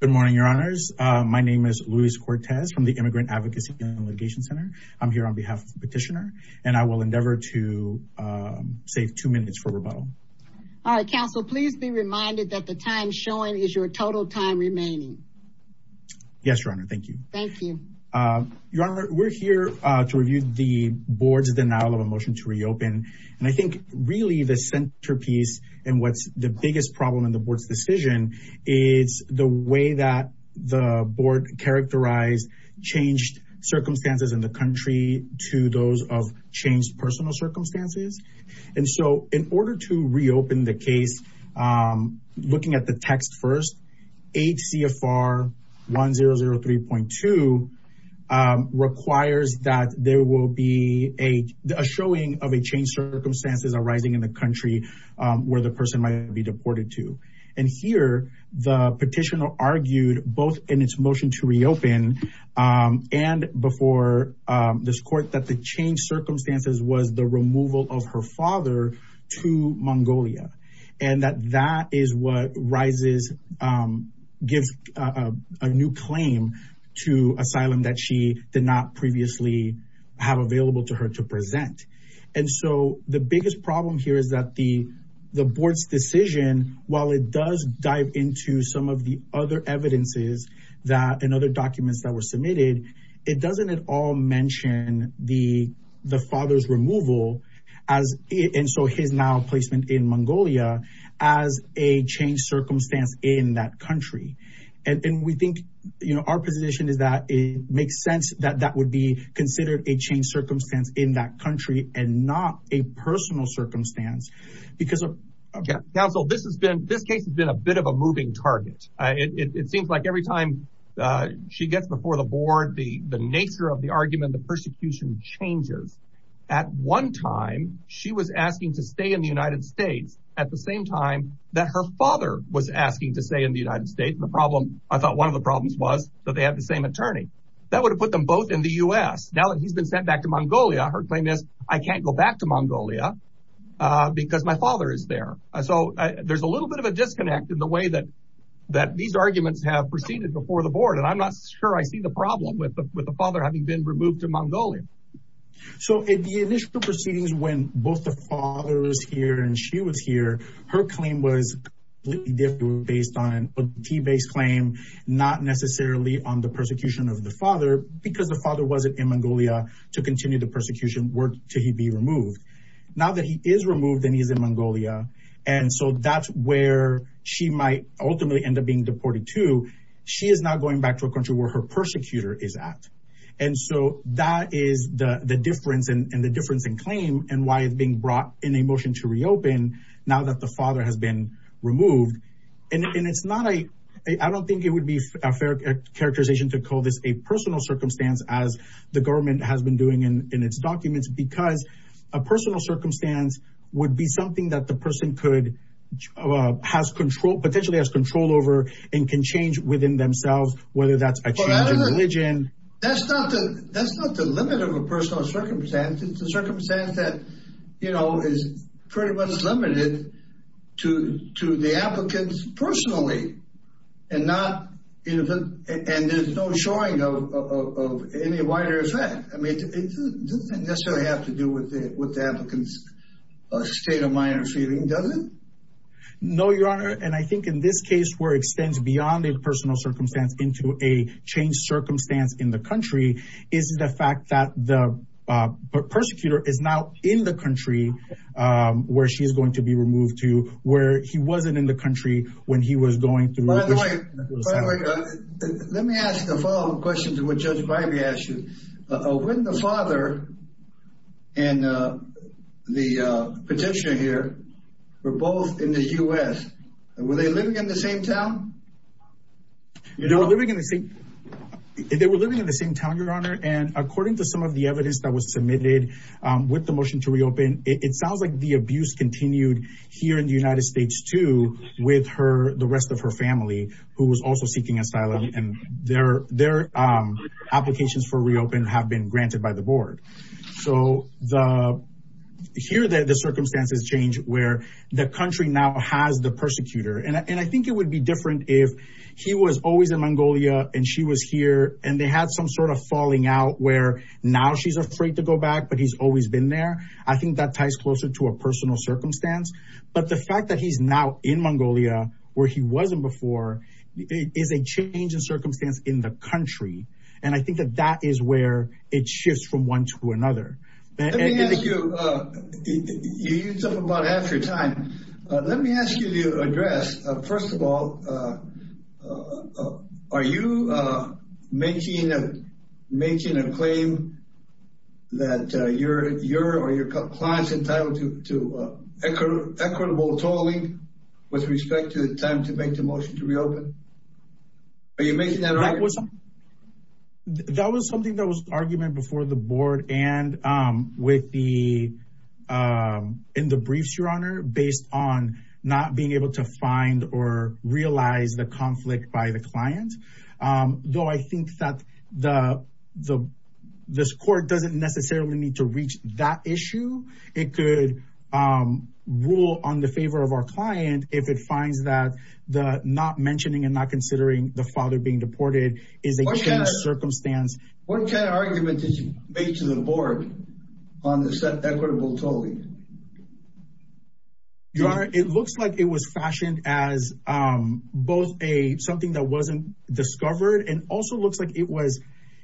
Good morning, your honors. My name is Luis Cortez from the Immigrant Advocacy and Litigation Center. I'm here on behalf of the petitioner and I will endeavor to save two minutes for rebuttal. All right, counsel, please be reminded that the time showing is your total time remaining. Yes, your honor. Thank you. Thank you. Your honor, we're here to review the board's denial of a motion to reopen. And I think really the centerpiece and what's the biggest problem in the board's decision is the way that the board characterized changed circumstances in the country to those of changed personal circumstances. And so in order to reopen the case, looking at the text first, 8 CFR 1003.2 requires that there will be a showing of a change circumstances arising in the country where the person might be deported to. And here, the petitioner argued both in its motion to reopen and before this court that the change circumstances was the removal of her father to Mongolia. And that that is what gives a new claim to asylum that she did not previously have available to her to present. And so the biggest problem here is that the board's decision, while it does dive into some of the other evidences and other documents that were submitted, it doesn't at all mention the father's removal and so his now placement in Mongolia as a changed circumstance in that country. And we think our position is that it makes sense that that would be considered a changed circumstance in that country and not a personal circumstance. Counsel, this case has been a bit of a moving target. It seems like every time she gets before the board, the nature of the argument, the persecution changes. At one time, she was asking to stay in the United States at the same time that her father was asking to stay in the United States. And the problem I thought one of the problems was that they have the same attorney that would have put them both in the US. Now that he's been sent back to Mongolia, her claim is I can't go back to Mongolia because my father is there. So there's a little bit of a disconnect in the way that that these arguments have proceeded before the board. And I'm not sure I see the problem with the father having been removed to Mongolia. So in the initial proceedings when both the father was here and she was here, her claim was based on a T-based claim, not necessarily on the persecution of the father because the father wasn't in Mongolia to continue the persecution work till he'd be removed. Now that he is removed and he's in Mongolia. And so that's where she might ultimately end up being deported to. She is not going back to a country where her persecutor is at. And so that is the difference and the difference in claim and why it's being brought in a motion to reopen now that the father has been removed. And it's not a, I don't think it would be a fair characterization to call this a personal circumstance as the government has been doing in its documents because a personal circumstance would be something that the person could, has control, potentially has control over and can change within themselves, whether that's a change in religion. That's not the limit of a personal circumstance. It's a circumstance that, you know, is pretty much limited to the applicants personally and not, and there's no showing of any wider effect. I mean, it doesn't necessarily have to do with the state of mind or feeling, does it? No, your honor. And I think in this case where it extends beyond the personal circumstance into a changed circumstance in the country is the fact that the persecutor is now in the country where she is going to be removed to where he wasn't in the country when he was going through. By the way, let me ask the following question to what Judge the petitioner here were both in the U.S. Were they living in the same town? You know, they were living in the same town, your honor. And according to some of the evidence that was submitted with the motion to reopen, it sounds like the abuse continued here in the United States too with her, the rest of her family who was also seeking asylum and their applications for here. The circumstances change where the country now has the persecutor. And I think it would be different if he was always in Mongolia and she was here and they had some sort of falling out where now she's afraid to go back, but he's always been there. I think that ties closer to a personal circumstance. But the fact that he's now in Mongolia where he wasn't before is a change in circumstance in the country. And I think that that is where it shifts from one to the other. Let me ask you, you used up about half your time. Let me ask you to address, first of all, are you making a claim that you're or your client's entitled to equitable tolling with respect to the time to make the motion to reopen? Are you making that argument? That was something that was argument before the board and the in the briefs, your honor, based on not being able to find or realize the conflict by the client. Though I think that the the this court doesn't necessarily need to reach that issue. It could rule on the favor of our client if it finds that the not mentioning and not considering the father being deported is a change in circumstance. What kind of argument did you make to the board on this equitable tolling? Your honor, it looks like it was fashioned as both a something that wasn't discovered and also looks like it was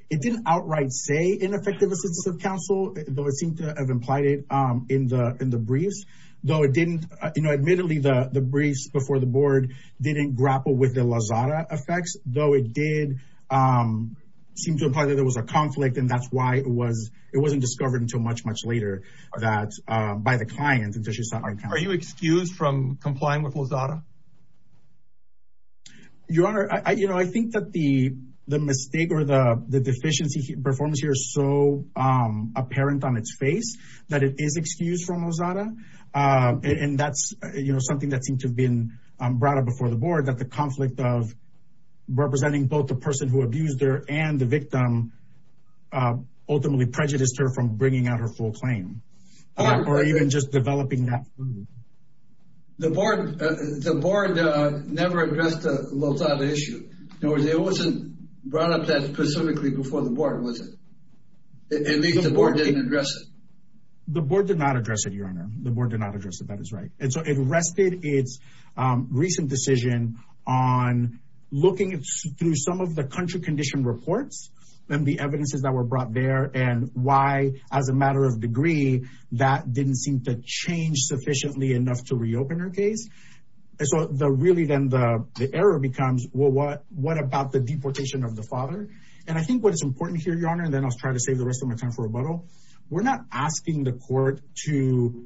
it didn't outright say ineffective assistance of counsel, though it seemed to have implied it in the in the briefs, though it didn't. You know, admittedly, the briefs before the board didn't grapple with the Lazada effects, though it did seem to imply that there was a it wasn't discovered until much, much later that by the client. Are you excused from complying with Lazada? Your honor, I you know, I think that the the mistake or the the deficiency performance here is so apparent on its face that it is excused from Lazada. And that's something that seemed to have been brought up before the board that the conflict of representing both the person who prejudiced her from bringing out her full claim or even just developing that. The board, the board never addressed the Lazada issue. No, it wasn't brought up that specifically before the board, was it? At least the board didn't address it. The board did not address it, your honor. The board did not address it. That is right. And so it rested its recent decision on looking through some of the country condition reports and the why as a matter of degree, that didn't seem to change sufficiently enough to reopen her case. So the really then the error becomes, well, what what about the deportation of the father? And I think what is important here, your honor, and then I'll try to save the rest of my time for rebuttal. We're not asking the court to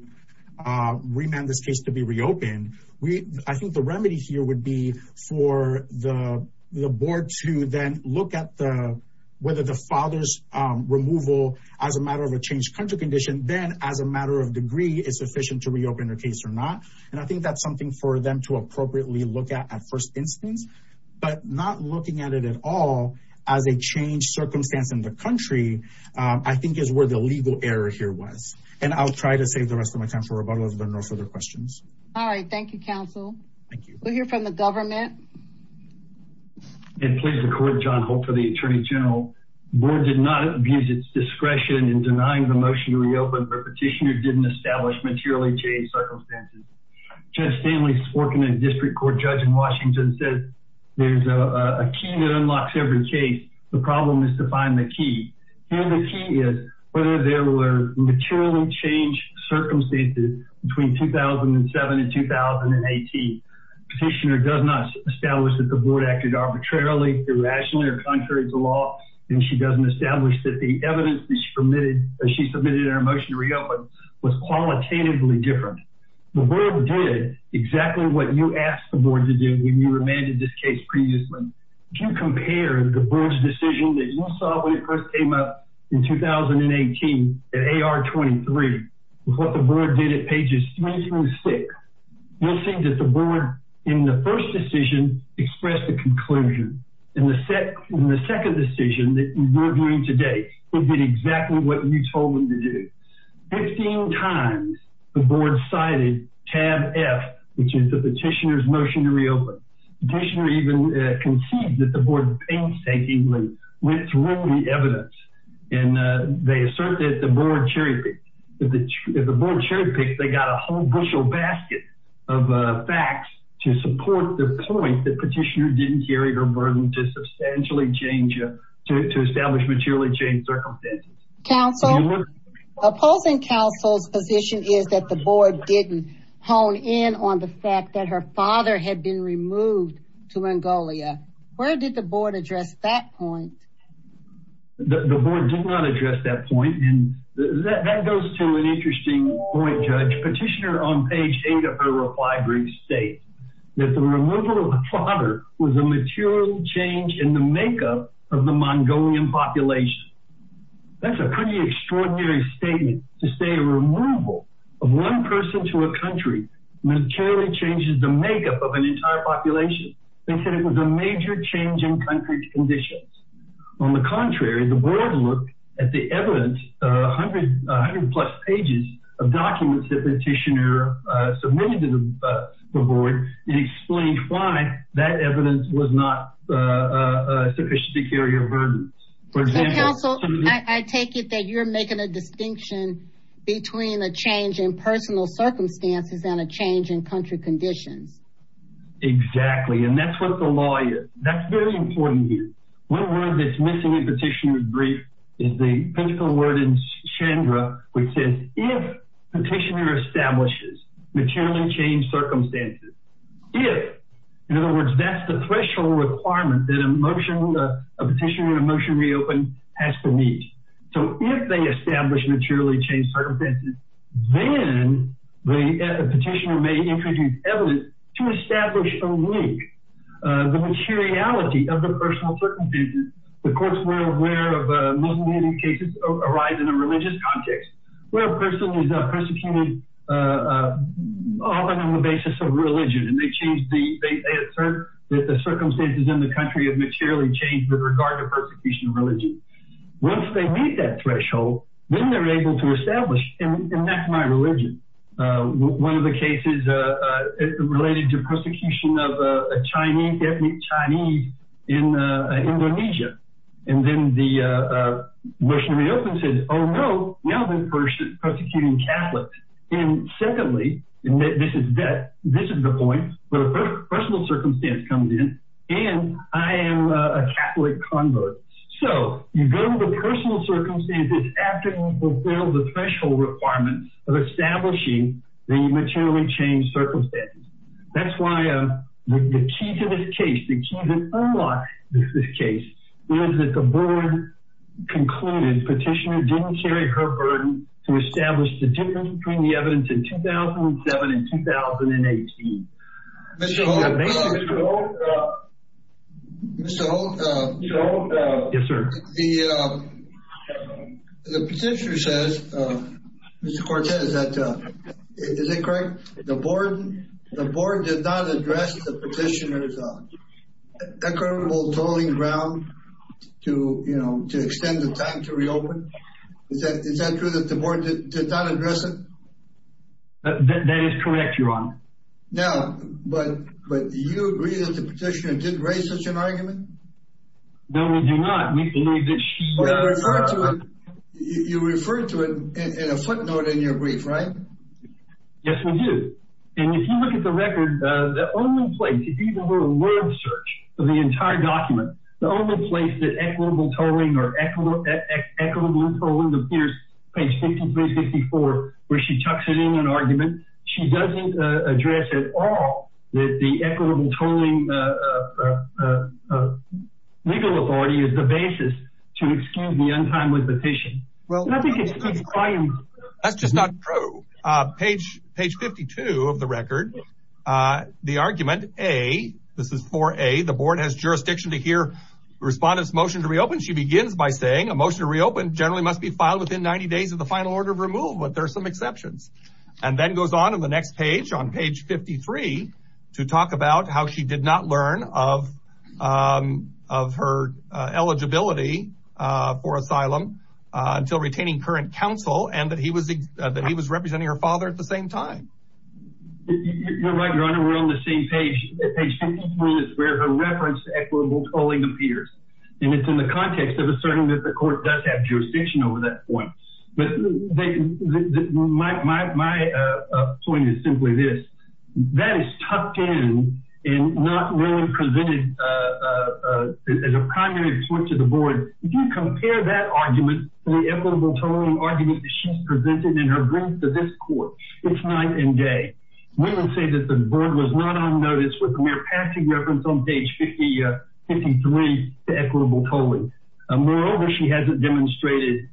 remand this case to be reopened. We I think the remedy here would be for the board to then look at the whether the father's removal as a matter of a changed country condition, then as a matter of degree is sufficient to reopen her case or not. And I think that's something for them to appropriately look at at first instance, but not looking at it at all as a changed circumstance in the country, I think is where the legal error here was. And I'll try to save the rest of my time for rebuttal if there are no further questions. All right. Thank you, counsel. Thank you. We'll hear from the government. And please record, John, hope for the attorney general board did not abuse its discretion in denying the motion to reopen her petitioner didn't establish materially changed circumstances. Judge Stanley Sporkman, a district court judge in Washington, said there's a key that unlocks every case. The problem is to find the key. And the key is whether there were materially changed circumstances between 2007 and 2018. Petitioner does not establish that the board acted arbitrarily, irrationally or contrary to law. And she doesn't establish that the evidence that she submitted in her motion to reopen was qualitatively different. The board did exactly what you asked the board to do when you remanded this case previously. Can you compare the board's decision that you saw when it first came up in 2018 at AR-23 with what the board did at pages three through six? You'll see that the board in the first decision expressed the conclusion. In the second decision that you're doing today, it did exactly what you told them to do. 15 times the board cited tab F, which is the petitioner's motion to reopen. Petitioner even conceived that the board painstakingly went through the evidence. And they assert that the board cherry-picked. If the board cherry-picked, they got a whole bushel basket of facts to support the point that petitioner didn't carry her burden to substantially change, to establish materially changed circumstances. Counsel, opposing counsel's position is that the board didn't hone in on the fact that her father had been removed to Mongolia. Where did the board address that point? The board did not address that point. And that goes to an interesting point, Judge. Petitioner on page eight of her reply brief states that the removal of her father was a material change in the makeup of the Mongolian population. That's a pretty extraordinary statement to say a removal of one person to a country materially changes the makeup of an entire population. They said it was a major change in country's conditions. On the contrary, the board looked at the evidence, 100 plus pages of documents that petitioner submitted to the board and explained why that evidence was not a sufficient to carry a burden. Counsel, I take it that you're making a distinction between a change in personal circumstances and a change in country conditions. Exactly. And that's what the law is. That's very important here. One word that's missing in petitioner's brief is the principle word in Shandra, which says if petitioner establishes materially changed circumstances, if, in other words, that's the threshold requirement that a petitioner in a motion reopened has to meet. So if they establish materially changed circumstances, then the petitioner may introduce evidence to establish a link, the materiality of the personal circumstances. The courts were aware of Muslim-hating cases arise in a religious context where a person is persecuted often on the basis of religion. And they change the, they assert that the circumstances in the country have materially changed with regard to persecution of religion. Once they meet that threshold, then they're able to establish, and that's my religion, one of the cases related to persecution of a Chinese in Indonesia. And then the motion reopened said, oh no, now they're persecuting Catholics. And secondly, and this is that, this is the point where a personal circumstance comes in, and I am a Catholic convert. So you go to the personal circumstances after you fulfill the threshold requirements of establishing the materially changed circumstances. That's why the key to this case, the key to unlock this case, is that the board concluded petitioner didn't carry her burden to establish the difference between the evidence in 2007 and 2018. Mr. Holt, the petitioner says, Mr. Cortez, is that, is it correct? The board did not address the petitioner's equitable tolling ground to, you know, to extend the time to reopen. Is that, is that true that the board did not address it? That is correct, Your Honor. Now, but, but do you agree that the petitioner did raise such an argument? No, we do not. You referred to it in a footnote in your brief, right? Yes, we do. And if you look at the record, the only place, even for a word search of the entire document, the only place that equitable tolling appears, page 53, 54, where she tucks it in an argument, she doesn't address at all that the equitable tolling legal authority is the basis to excuse the untimely petition. That's just not true. Page, page 52 of the record, the argument, A, this is for A, the board has jurisdiction to hear respondents' motion to reopen. She begins by saying, a motion to reopen generally must be filed within 90 days of the final order of removal, but there are some exceptions. And then goes on in the next page, on page 53, to talk about how she did not learn of, of her eligibility for asylum until retaining current counsel and that he was, that he was representing her father at the same time. You're right, Your Honor, we're on the same page. Page 53 is where her reference to equitable tolling appears. And it's in the context of asserting that the court does have jurisdiction over that point. My point is simply this, that is tucked in and not really presented as a primary point to the board. If you compare that argument to the equitable tolling argument that she's presented in her brief to this court, it's night and day. Women say that the board was not on notice with mere passing reference on page 53 to equitable tolling. Moreover, she hasn't demonstrated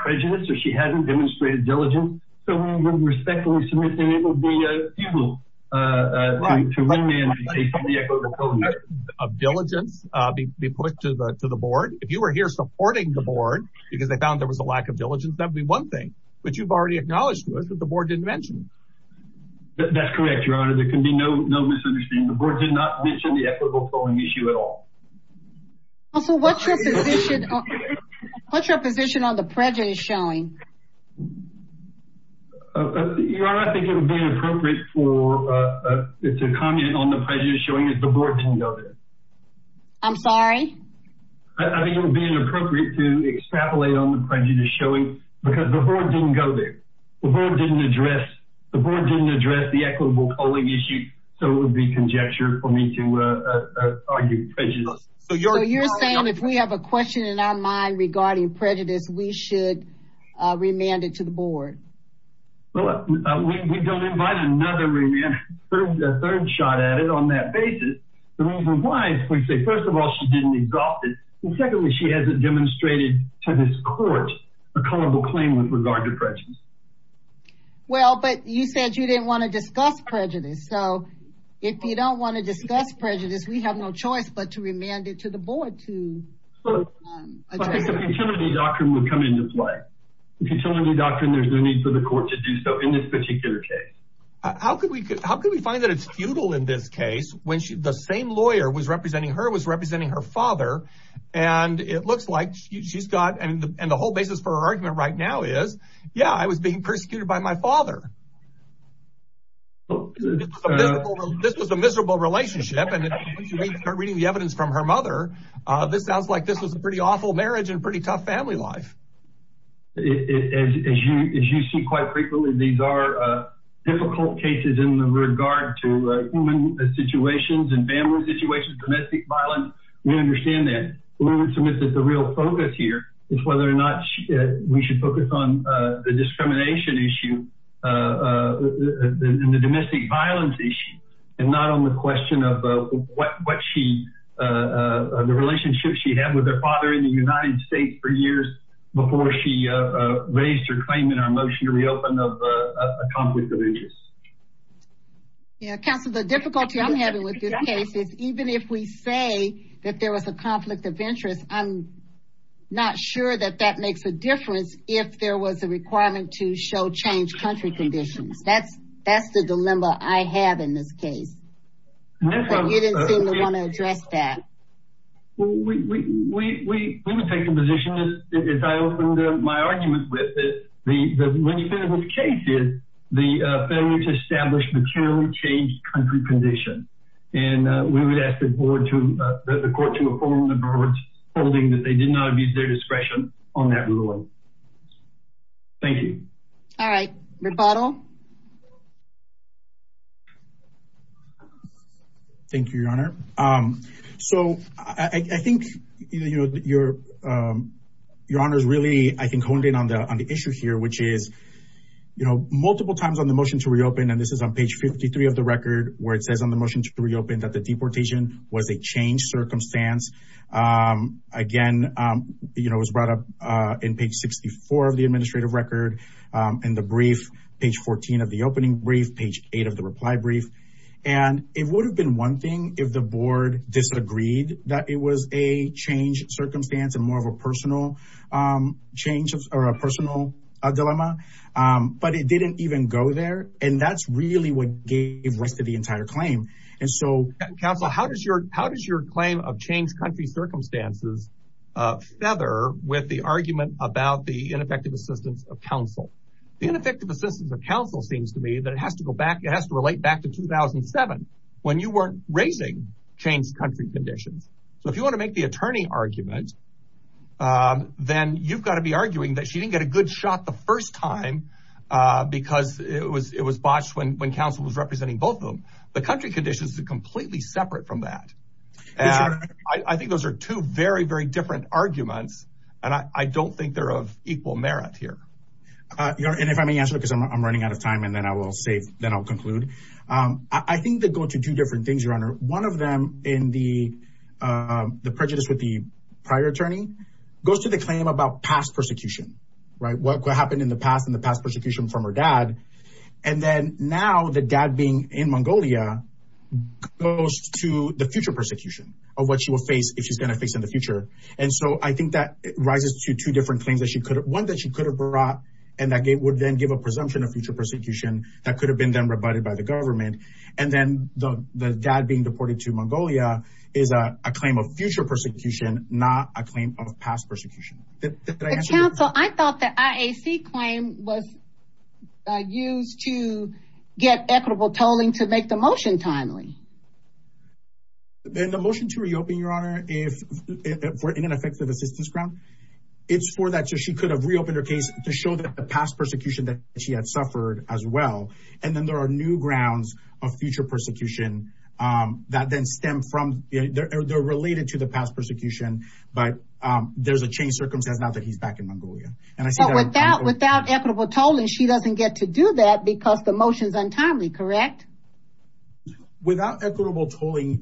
prejudice or she hasn't demonstrated diligence, so we would respectfully submit that it would be futile to recommend the equitable tolling argument. Of diligence be put to the, to the board. If you were here supporting the board, because they found there was a lack of diligence, that'd be one thing, but you've already acknowledged to us that the board didn't mention it. That's correct, Your Honor, there can be no misunderstanding. The board did not mention the equitable tolling issue at all. So what's your position on the prejudice showing? Your Honor, I think it would be inappropriate to comment on the prejudice showing if the board didn't go there. I'm sorry? I think it would be inappropriate to extrapolate on the prejudice showing because the board didn't go there. The board didn't address the equitable tolling issue, so it would be conjecture for me to argue prejudice. So you're saying if we have a question in our mind regarding prejudice, we should remand it to the board? Well, we don't invite another remand, a third shot at it on that basis. The reason why is, first of all, she didn't exhaust it, and secondly, she hasn't demonstrated to this court a culpable claim with regard to prejudice. Well, but you said you didn't want to discuss prejudice. So if you don't want to discuss prejudice, we have no choice but to remand it to the board to address it. I think a futility doctrine would come into play. A futility doctrine, there's no need for the court to do so in this particular case. How could we find that it's futile in this case when the same lawyer was representing her, was representing her father, and it looks like she's got, and the whole basis for her argument right now is, yeah, I was being persecuted by my father. This was a miserable relationship, and reading the evidence from her mother, this sounds like this was a pretty awful marriage and pretty tough family life. As you see quite frequently, these are difficult cases in regard to human situations and family situations, domestic violence. We understand that. We would submit that the real focus here is whether or not we should focus on the discrimination issue and the domestic violence issue and not on the question of what she, the relationship she had with her father in the before she raised her claim in our motion to reopen of a conflict of interest. Yeah, counsel, the difficulty I'm having with this case is even if we say that there was a conflict of interest, I'm not sure that that makes a difference if there was a requirement to show change country conditions. That's the dilemma I have in this case. You didn't seem to want to address that. Well, we would take the position, as I opened my argument with, that when you finish with cases, the failure to establish materially changed country conditions, and we would ask the court to inform the courts holding that they did not abuse their discretion on that ruling. Thank you. All right. Rebuttal. Thank you, Your Honor. So I think, you know, Your Honor's really, I think, honed in on the issue here, which is, you know, multiple times on the motion to reopen, and this is on page 53 of the record, where it says on the motion to reopen that the deportation was a changed circumstance. Again, you know, it was brought up in page 64 of the administrative record and the brief, page 14 of the opening brief, page eight of the reply brief, and it would have been one thing if the board disagreed that it was a changed circumstance and more of a personal change or a personal dilemma, but it didn't even go there, and that's really what gave rise to the entire claim. And so, Counsel, how does your claim of changed country circumstances feather with the argument about the ineffective assistance of counsel? The ineffective assistance of counsel seems to me that it has to go back, it has to relate back to 2007, when you weren't raising changed country conditions. So if you want to make the attorney argument, then you've got to be arguing that she didn't get a good shot the first time because it was botched when counsel was representing both of them. The country conditions are completely separate from that. And I think those are two very, very different arguments, and I don't think they're of equal merit here. And if I may answer, because I'm running out of time, and then I will save, then I'll conclude. I think they go to two different things, Your Honor. One of them in the prejudice with the prior attorney goes to the claim about past persecution, right? What happened in the past from her dad. And then now the dad being in Mongolia, goes to the future persecution of what she will face if she's going to face in the future. And so I think that rises to two different claims that she could have one that she could have brought. And that would then give a presumption of future persecution that could have been done rebutted by the government. And then the dad being deported to Mongolia is a claim of future persecution, not a claim of past persecution. Counsel, I thought that IAC claim was used to get equitable tolling to make the motion timely. Then the motion to reopen, Your Honor, if we're in an effective assistance ground, it's for that. So she could have reopened her case to show that the past persecution that she had suffered as well. And then there are new grounds of future persecution that then stem from, they're related to the past persecution. But there's a change circumstance now that he's back in Mongolia. So without equitable tolling, she doesn't get to do that because the motion is untimely, correct? Without equitable tolling,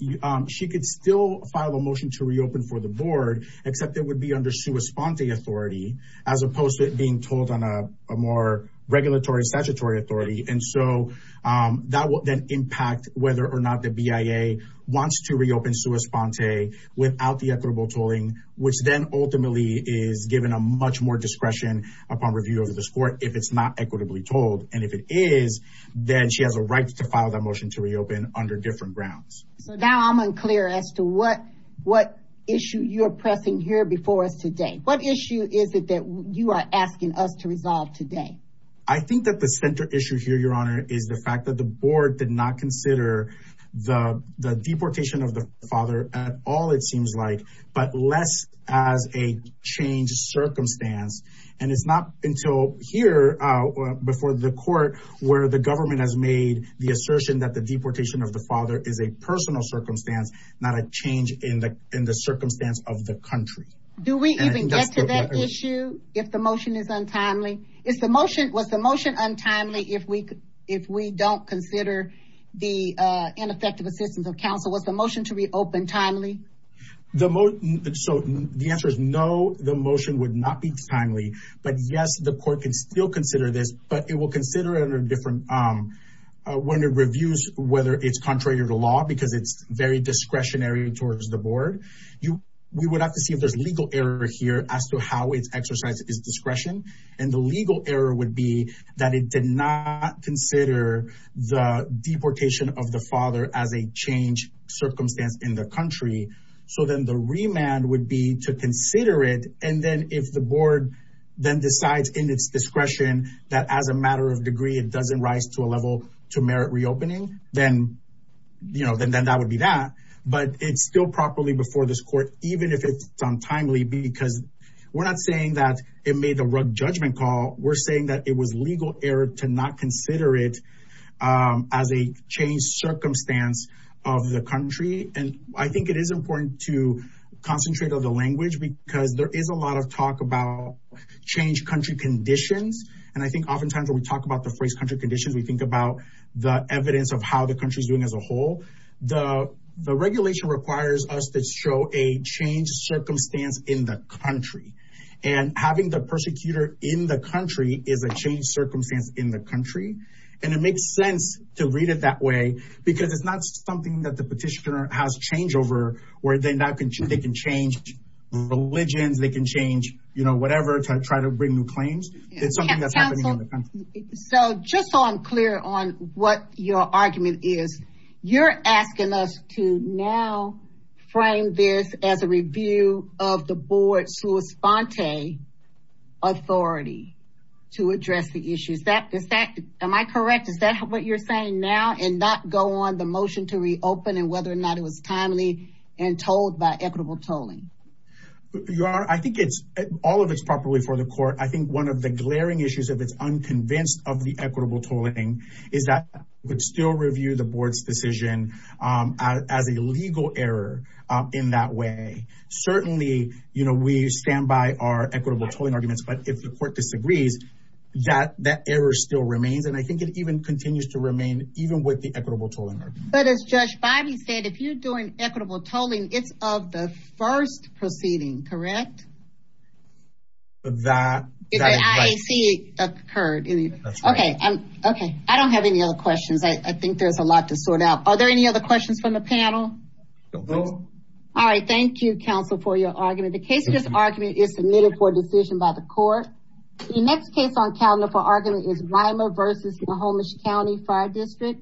she could still file a motion to reopen for the board, except it would be under sua sponte authority, as opposed to it being told on a more regulatory statutory authority. And so that will then impact whether or not the BIA wants to reopen sua sponte without the equitable tolling, which then ultimately is given a much more discretion upon review of the score if it's not equitably told. And if it is, then she has a right to file that motion to reopen under different grounds. So now I'm unclear as to what issue you're pressing here before us today. What issue is it that you are asking us to resolve today? I think that the center issue here, Your Honor, the fact that the board did not consider the deportation of the father at all, it seems like, but less as a change circumstance. And it's not until here, before the court, where the government has made the assertion that the deportation of the father is a personal circumstance, not a change in the circumstance of the country. Do we even get to that issue if the motion is untimely? Was the motion untimely if we don't consider the ineffective assistance of counsel? Was the motion to reopen timely? So the answer is no, the motion would not be timely. But yes, the court can still consider this, but it will consider it under different reviews, whether it's contrary to the law, because it's very discretionary towards the board. We would have to see if there's legal error here as to how it's exercised its discretion. And the legal error would be that it did not consider the deportation of the father as a change circumstance in the country. So then the remand would be to consider it. And then if the board then decides in its discretion that as a matter of degree, it doesn't rise to a level to merit reopening, then that would be that. But it's still properly before this court, even if it's untimely, because we're not saying that it made a rough judgment call. We're saying that it was legal error to not consider it as a change circumstance of the country. And I think it is important to concentrate on the language because there is a lot of talk about change country conditions. And I think oftentimes when we talk about the phrase country conditions, we think about the evidence of how the country's doing as a whole. The regulation requires us to show a change circumstance in the country. And having the persecutor in the country is a change circumstance in the country. And it makes sense to read it that way, because it's not something that the petitioner has change over, where they can change religions, they can change, you know, whatever to try to bring new You're asking us to now frame this as a review of the board's sua sponte authority to address the issues that is that am I correct? Is that what you're saying now and not go on the motion to reopen and whether or not it was timely and told by equitable tolling? You are I think it's all of it's properly for the court. I think one of the glaring issues if it's unconvinced of the equitable tolling is that would still review the board's decision as a legal error. In that way. Certainly, you know, we stand by our equitable tolling arguments. But if the court disagrees, that that error still remains. And I think it even continues to remain even with the equitable tolling. But as Judge Bobby said, if you're doing equitable tolling, it's of the first proceeding, correct? That occurred. Okay, I'm okay. I don't have any other questions. I think there's a lot to sort out. Are there any other questions from the panel? All right. Thank you, counsel for your argument. The case of this argument is submitted for decision by the court. The next case on calendar for argument is Lima versus the Olmstead County Fire District.